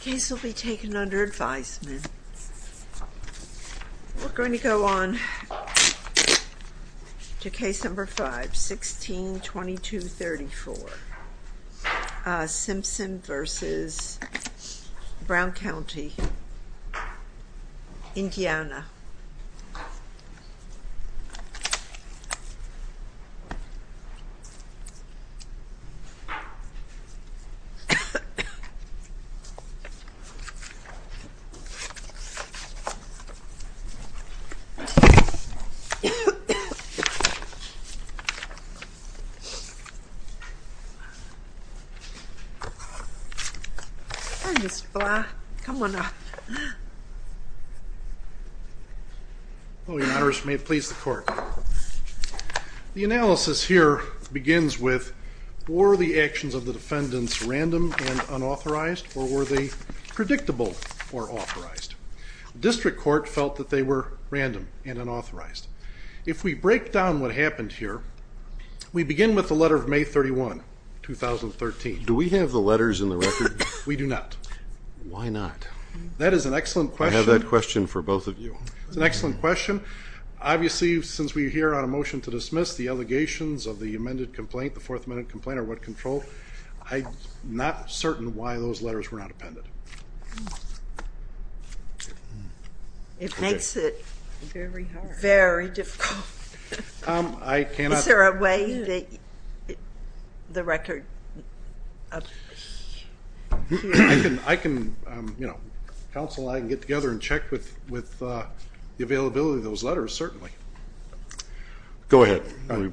Case will be taken under advisement. We're going to go on to case number 5, 16-22-34 Simpson v. Brown County, Indiana Mr. Blah, come on up. Your honors, may it please the court. The analysis here begins with, were the actions of the defendants random and unauthorized or were they predictable or authorized? The district court felt that they were random and unauthorized. If we break down what happened here, we begin with the letter of May 31, 2013. Do we have the letters in the record? We do not. Why not? That is an excellent question. I have that question for both of you. It's an excellent question. Obviously since we're here on a motion to dismiss the allegations of the amended complaint, the fourth amended complaint or what control, I'm not certain why those letters were not appended. It makes it very difficult. Is there a way that the record. I can, counsel, I can get together and check with the availability of those letters, certainly. Go ahead.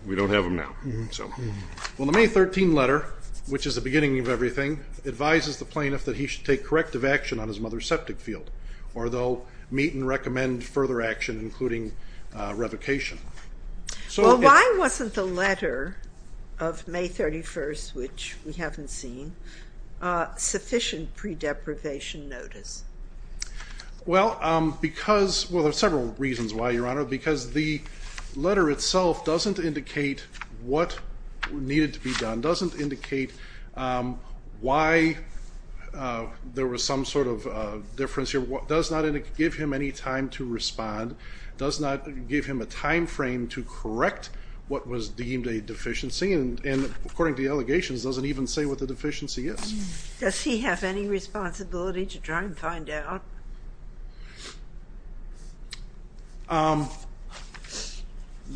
We don't have them now. The May 13 letter, which is the beginning of everything, advises the plaintiff that he should take corrective action on his mother's septic field or they'll meet and recommend further action including revocation. Why wasn't the letter of May 31, which we haven't seen, sufficient pre-deprivation notice? Well, because, well there are several reasons why, Your Honor, because the letter itself doesn't indicate what needed to be done, doesn't indicate why there was some sort of difference here, does not give him any time to respond, does not give him a time frame to correct what was deemed a deficiency and according to the allegations doesn't even say what the deficiency is. Does he have any responsibility to try and find out?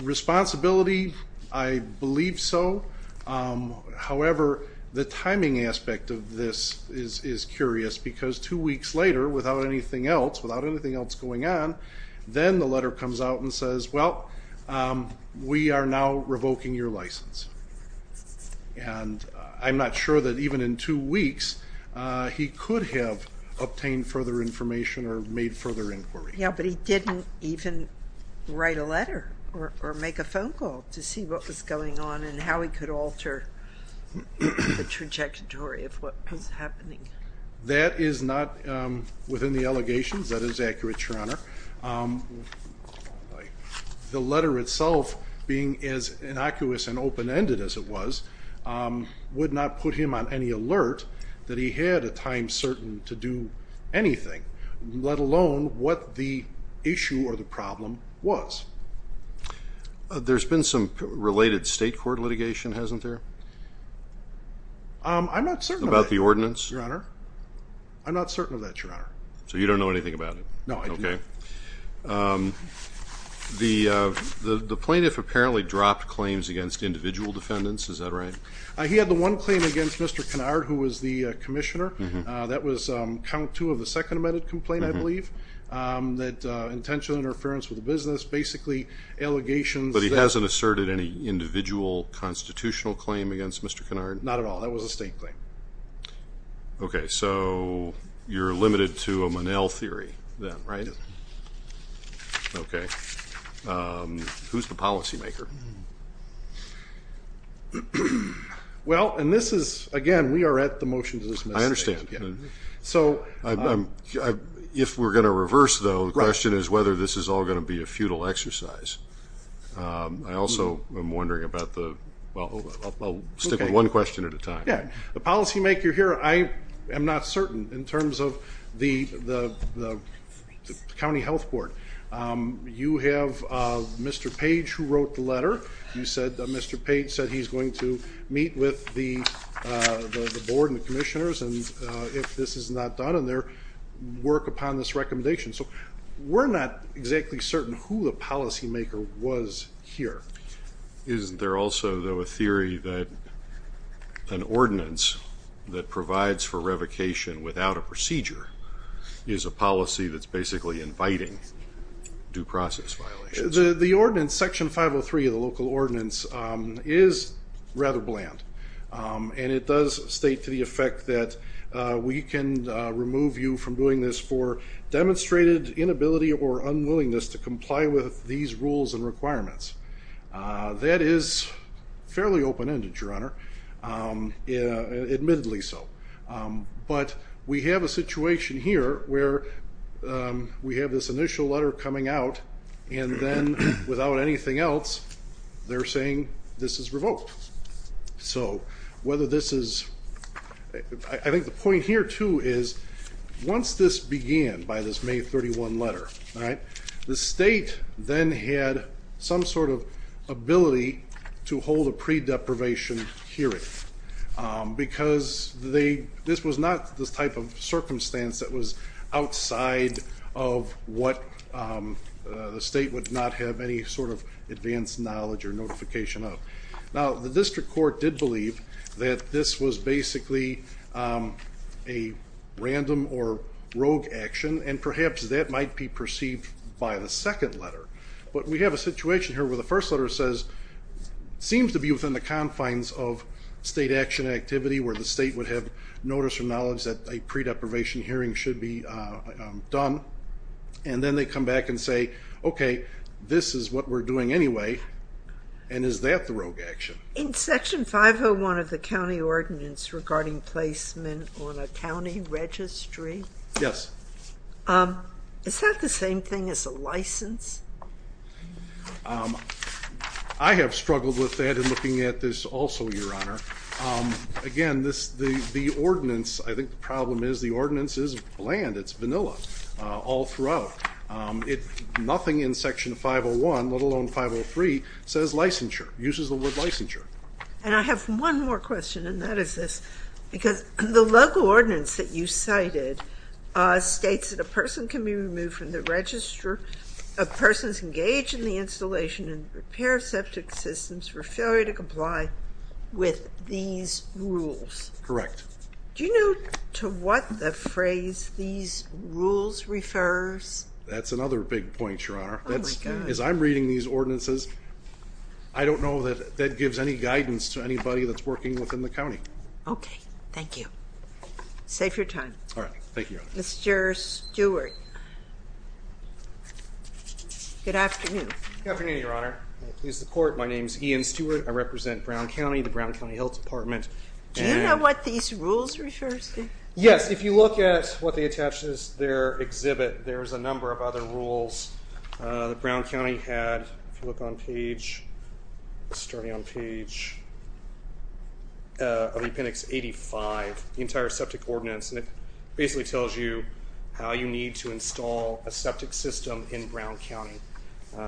Responsibility, I believe so. However, the timing aspect of this is curious because two weeks later, without anything else going on, then the letter comes out and says, well, we are now revoking your license. And I'm not sure that even in two weeks he could have obtained further information or made further inquiry. Yeah, but he didn't even write a letter or make a phone call to see what was going on and how he could alter the trajectory of what was happening. That is not within the allegations, that is accurate, Your Honor. The letter itself, being as innocuous and open-ended as it was, would not put him on any alert that he had a time certain to do anything, let alone what the issue or the problem was. There's been some related state court litigation, hasn't there? I'm not certain about the ordinance, Your Honor. I'm not certain of that, Your Honor. So you don't know anything about it? No, I do not. Okay. The plaintiff apparently dropped claims against individual defendants, is that right? He had the one claim against Mr. Kennard, who was the commissioner. That was count two of the second amended complaint, I believe, that intentional interference with the business, basically allegations. But he hasn't asserted any individual constitutional claim against Mr. Kennard? Not at all, that was a state claim. Okay, so you're limited to a Monell theory then, right? Okay. Who's the policymaker? Well, and this is, again, we are at the motion to dismiss. I understand. If we're going to reverse though, the question is whether this is all going to be a futile exercise. I also am wondering about the, well, I'll stick with one question at a time. Yeah, the policymaker here, I am not certain in terms of the county health board. You have Mr. Page who wrote the letter. Mr. Page said he's going to meet with the board and the commissioners and if this is not done and their work upon this recommendation. So we're not exactly certain who the policymaker was here. Is there also, though, a theory that an ordinance that provides for revocation without a procedure is a policy that's basically inviting due process violations? The ordinance, section 503 of the local ordinance is rather bland. And it does state to the effect that we can remove you from doing this for demonstrated inability or unwillingness to comply with these rules and requirements. That is fairly open-ended, Your Honor. Admittedly so. But we have a situation here where we have this initial letter coming out and then without anything else, they're saying this is revoked. So I think the point here, too, is once this began by this May 31 letter, the state then had some sort of ability to hold a pre-deprivation hearing because this was not this type of circumstance that was outside of what the state would not have any sort of advanced knowledge or notification of. Now, the district court did believe that this was basically a random or rogue action, and perhaps that might be perceived by the second letter. But we have a situation here where the first letter seems to be within the confines of state action activity where the state would have notice or knowledge that a pre-deprivation hearing should be done. And then they come back and say, okay, this is what we're doing anyway. And is that the rogue action? In Section 501 of the county ordinance regarding placement on a county registry? Yes. Is that the same thing as a license? I have struggled with that in looking at this also, Your Honor. Again, the ordinance, I think the problem is the ordinance is bland. It's vanilla all throughout. Nothing in Section 501, let alone 503, says licensure, uses the word licensure. And I have one more question, and that is this. Because the local ordinance that you cited states that a person can be removed from the register of persons engaged in the installation and repair septic systems for failure to comply with these rules. Correct. Do you know to what the phrase these rules refers? That's another big point, Your Honor. Oh, my God. As I'm reading these ordinances, I don't know that that gives any guidance to anybody that's working within the county. Okay. Thank you. Save your time. All right. Thank you, Your Honor. Mr. Stewart. Good afternoon. Good afternoon, Your Honor. May it please the Court, my name is Ian Stewart. I represent Brown County, the Brown County Health Department. Do you know what these rules refer to? Yes. If you look at what they attach to their exhibit, there's a number of other rules that Brown County had. If you look on page, starting on page, of the appendix 85, the entire septic ordinance. And it basically tells you how you need to install a septic system in Brown County.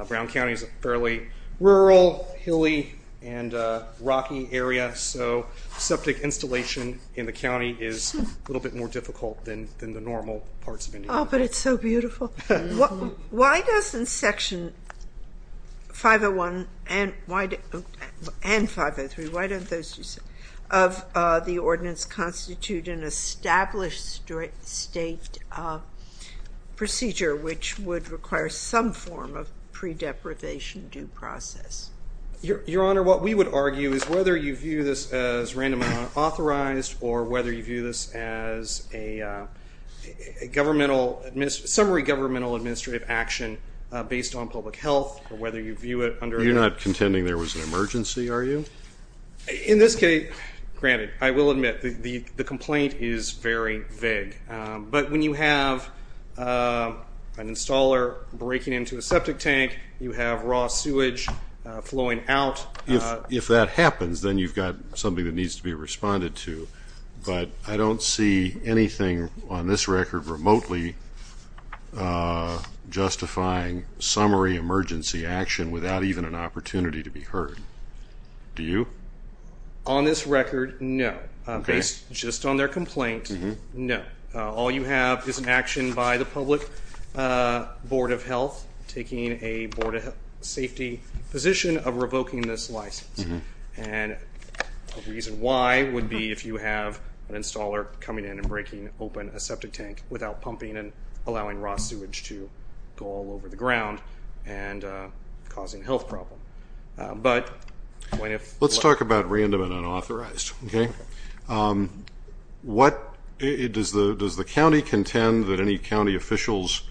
Brown County is a fairly rural, hilly, and rocky area, so septic installation in the county is a little bit more difficult than the normal parts of Indiana. Oh, but it's so beautiful. Why doesn't Section 501 and 503, why don't those two, of the ordinance constitute an established state procedure, which would require some form of pre-deprivation due process? Your Honor, what we would argue is whether you view this as randomly unauthorized, or whether you view this as a summary governmental administrative action based on public health, or whether you view it under a... You're not contending there was an emergency, are you? In this case, granted, I will admit, the complaint is very vague. But when you have an installer breaking into a septic tank, you have raw sewage flowing out... If that happens, then you've got something that needs to be responded to. But I don't see anything on this record remotely justifying summary emergency action without even an opportunity to be heard. Do you? On this record, no. Based just on their complaint, no. All you have is an action by the public board of health taking a board of safety position of revoking this license. And the reason why would be if you have an installer coming in and breaking open a septic tank without pumping and allowing raw sewage to go all over the ground and causing a health problem. But when if... Let's talk about random and unauthorized, okay? Does the county contend that any county officials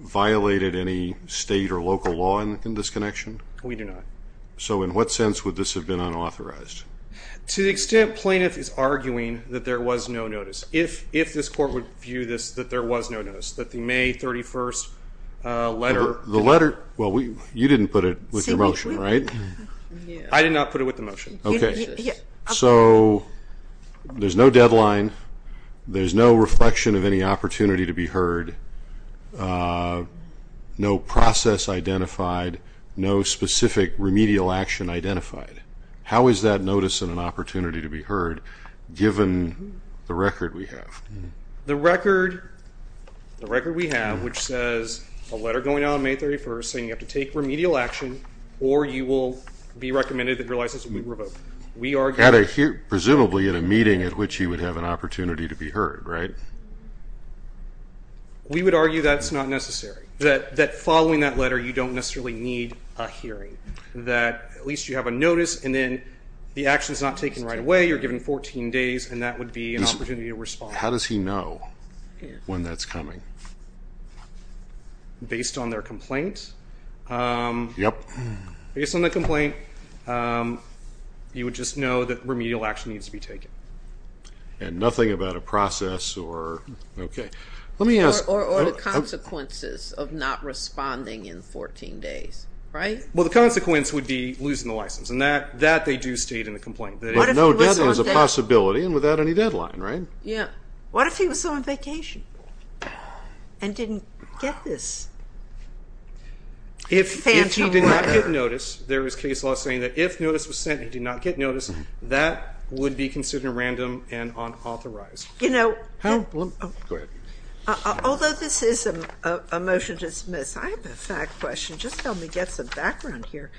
violated any state or local law in this connection? We do not. So in what sense would this have been unauthorized? To the extent plaintiff is arguing that there was no notice. If this court would view this that there was no notice, that the May 31st letter... The letter... Well, you didn't put it with the motion, right? I did not put it with the motion. Okay. So there's no deadline. There's no reflection of any opportunity to be heard. No process identified. No specific remedial action identified. How is that notice and an opportunity to be heard given the record we have? The record we have, which says a letter going out on May 31st saying you have to take remedial action or you will be recommended that your license be revoked. We argue... Presumably at a meeting at which he would have an opportunity to be heard, right? We would argue that's not necessary, that following that letter you don't necessarily need a hearing, that at least you have a notice and then the action is not taken right away. You're given 14 days, and that would be an opportunity to respond. How does he know when that's coming? Based on their complaint? Yes. Yep. Based on the complaint, you would just know that remedial action needs to be taken. And nothing about a process or, okay. Let me ask... Or the consequences of not responding in 14 days, right? Well, the consequence would be losing the license, and that they do state in the complaint. But no deadline is a possibility and without any deadline, right? Yeah. What if he was on vacation and didn't get this? If he did not get notice, there is case law saying that if notice was sent and he did not get notice, that would be considered random and unauthorized. You know... Go ahead. Although this is a motion to dismiss, I have a fact question. Just help me get some background here.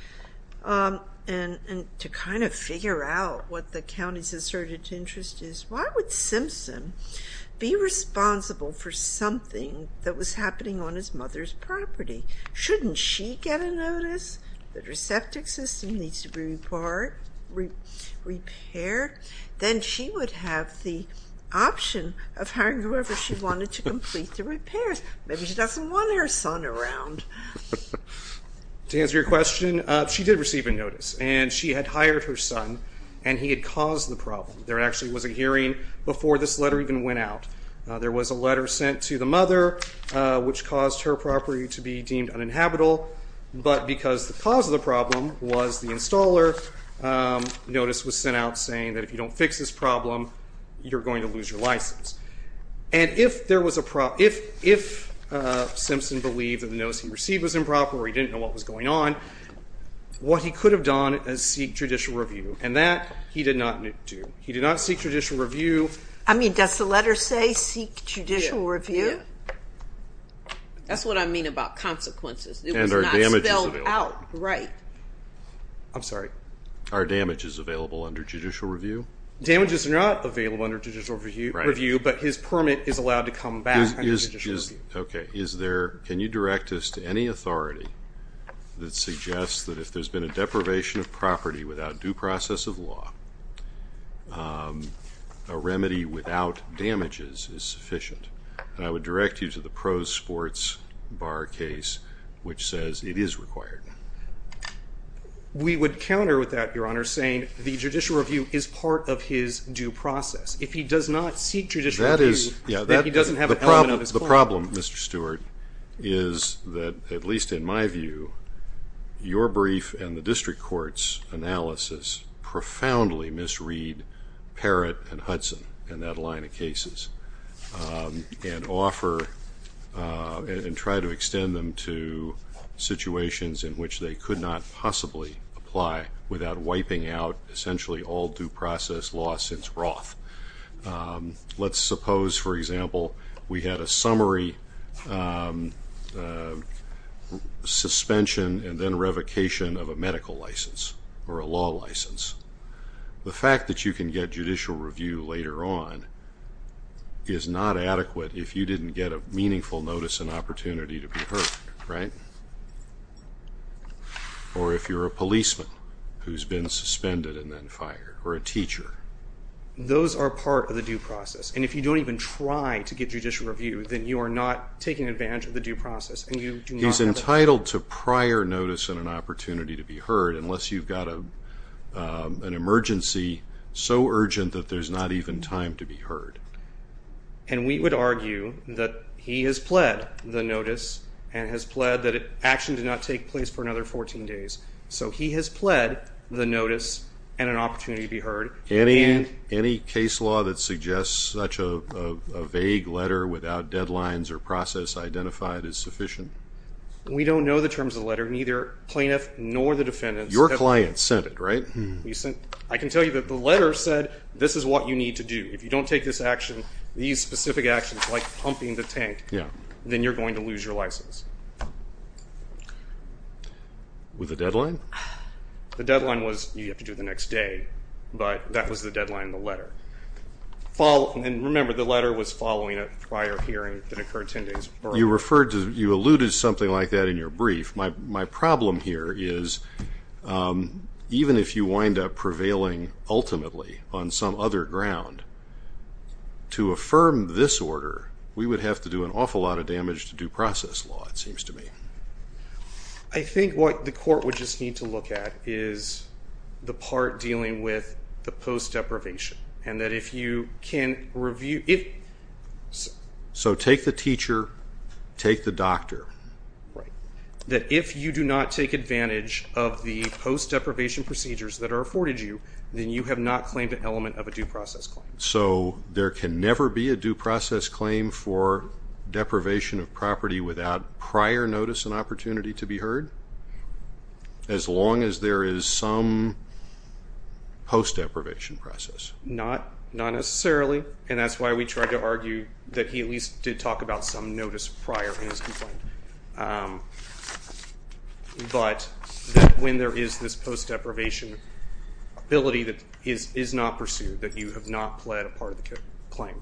And to kind of figure out what the county's asserted interest is, why would Simpson be responsible for something that was happening on his mother's property? Shouldn't she get a notice that her septic system needs to be repaired? Then she would have the option of hiring whoever she wanted to complete the repairs. Maybe she doesn't want her son around. To answer your question, she did receive a notice. And she had hired her son, and he had caused the problem. There actually was a hearing before this letter even went out. There was a letter sent to the mother which caused her property to be deemed uninhabitable. But because the cause of the problem was the installer, notice was sent out saying that if you don't fix this problem, you're going to lose your license. And if Simpson believed that the notice he received was improper or he didn't know what was going on, what he could have done is seek judicial review. And that he did not do. He did not seek judicial review. I mean, does the letter say seek judicial review? Yeah. That's what I mean about consequences. It was not spelled out right. I'm sorry. Are damages available under judicial review? Damages are not available under judicial review. Right. But his permit is allowed to come back under judicial review. Okay. Can you direct us to any authority that suggests that if there's been a deprivation of property without due process of law, a remedy without damages is sufficient? And I would direct you to the Pro Sports Bar case, which says it is required. We would counter with that, Your Honor, saying the judicial review is part of his due process. If he does not seek judicial review, then he doesn't have an element of his claim. The problem, Mr. Stewart, is that, at least in my view, your brief and the district court's analysis profoundly misread Parrott and Hudson in that line of cases and offer and try to extend them to situations in which they could not possibly apply without wiping out, essentially, all due process law since Roth. Let's suppose, for example, we had a summary suspension and then revocation of a medical license or a law license. The fact that you can get judicial review later on is not adequate if you didn't get a meaningful notice and opportunity to be heard, right? Or if you're a policeman who's been suspended and then fired, or a teacher. Those are part of the due process. And if you don't even try to get judicial review, then you are not taking advantage of the due process. He's entitled to prior notice and an opportunity to be heard, unless you've got an emergency so urgent that there's not even time to be heard. And we would argue that he has pled the notice and has pled that action did not take place for another 14 days. So he has pled the notice and an opportunity to be heard. Any case law that suggests such a vague letter without deadlines or process identified is sufficient? We don't know the terms of the letter, neither plaintiff nor the defendant. Your client sent it, right? I can tell you that the letter said this is what you need to do. If you don't take this action, these specific actions like pumping the tank, then you're going to lose your license. With a deadline? The deadline was you have to do it the next day, but that was the deadline in the letter. And remember, the letter was following a prior hearing that occurred 10 days prior. You alluded to something like that in your brief. My problem here is even if you wind up prevailing ultimately on some other ground, to affirm this order we would have to do an awful lot of damage to due process law, it seems to me. I think what the court would just need to look at is the part dealing with the post-deprivation and that if you can review it. So take the teacher, take the doctor. Right. That if you do not take advantage of the post-deprivation procedures that are afforded you, then you have not claimed an element of a due process claim. So there can never be a due process claim for deprivation of property without prior notice and opportunity to be heard? As long as there is some post-deprivation process? Not necessarily, and that's why we tried to argue that he at least did talk about some notice prior in his complaint. But when there is this post-deprivation ability that is not pursued, that you have not pled a part of the claim.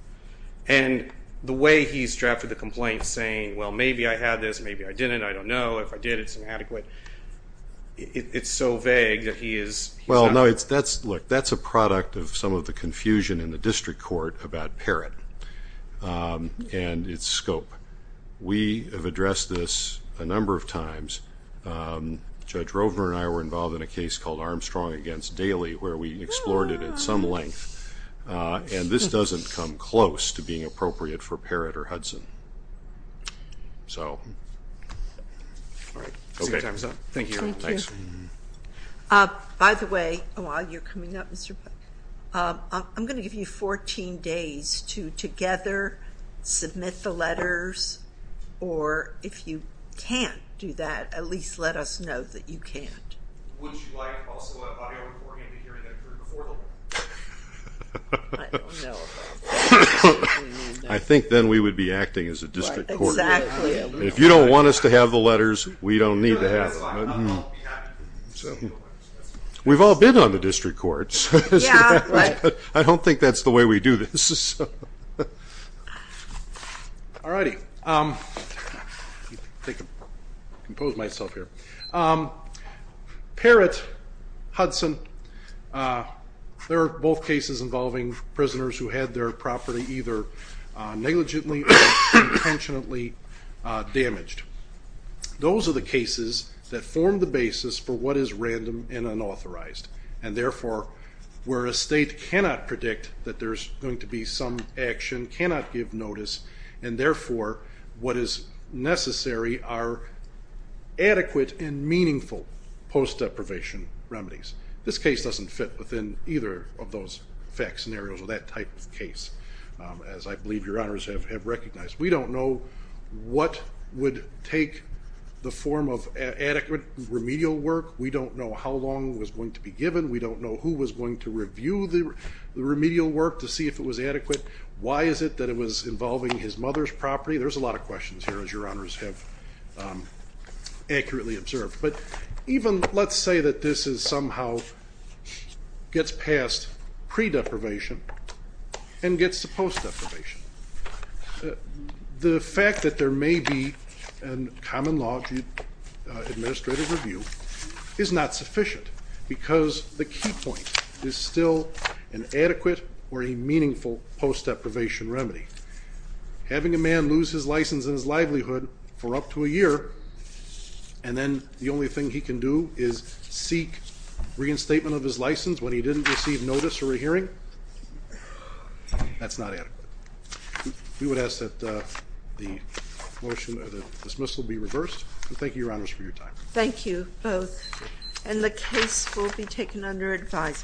And the way he's drafted the complaint saying, well, maybe I had this, maybe I didn't, I don't know, if I did it's inadequate. It's so vague that he is not. Well, no, look, that's a product of some of the confusion in the district court about Parrott and its scope. We have addressed this a number of times. Judge Rovner and I were involved in a case called Armstrong against Daly where we explored it at some length. And this doesn't come close to being appropriate for Parrott or Hudson. So, all right. Thank you. By the way, while you're coming up, Mr. Pike, I'm going to give you 14 days to together submit the letters, or if you can't do that, at least let us know that you can't. Would you like also an audio recording to hear them through the portal? I don't know about that. I think then we would be acting as a district court. Exactly. If you don't want us to have the letters, we don't need to have them. We've all been on the district courts. I don't think that's the way we do this. All righty. I'm going to compose myself here. Parrott, Hudson, they're both cases involving prisoners who had their property either negligently or intentionally damaged. Those are the cases that form the basis for what is random and unauthorized and, therefore, where a state cannot predict that there's going to be some action, cannot give notice, and, therefore, what is necessary are adequate and meaningful post-deprivation remedies. This case doesn't fit within either of those fact scenarios or that type of case, as I believe your honors have recognized. We don't know what would take the form of adequate remedial work. We don't know how long it was going to be given. We don't know who was going to review the remedial work to see if it was adequate. Why is it that it was involving his mother's property? There's a lot of questions here, as your honors have accurately observed. But even let's say that this somehow gets past pre-deprivation and gets to post-deprivation. The fact that there may be a common law administrative review is not sufficient because the key point is still an adequate or a meaningful post-deprivation remedy. Having a man lose his license and his livelihood for up to a year and then the only thing he can do is seek reinstatement of his license when he didn't receive notice or a hearing, that's not adequate. We would ask that the motion or the dismissal be reversed. Thank you, your honors, for your time. Thank you both. And the case will be taken under advisement.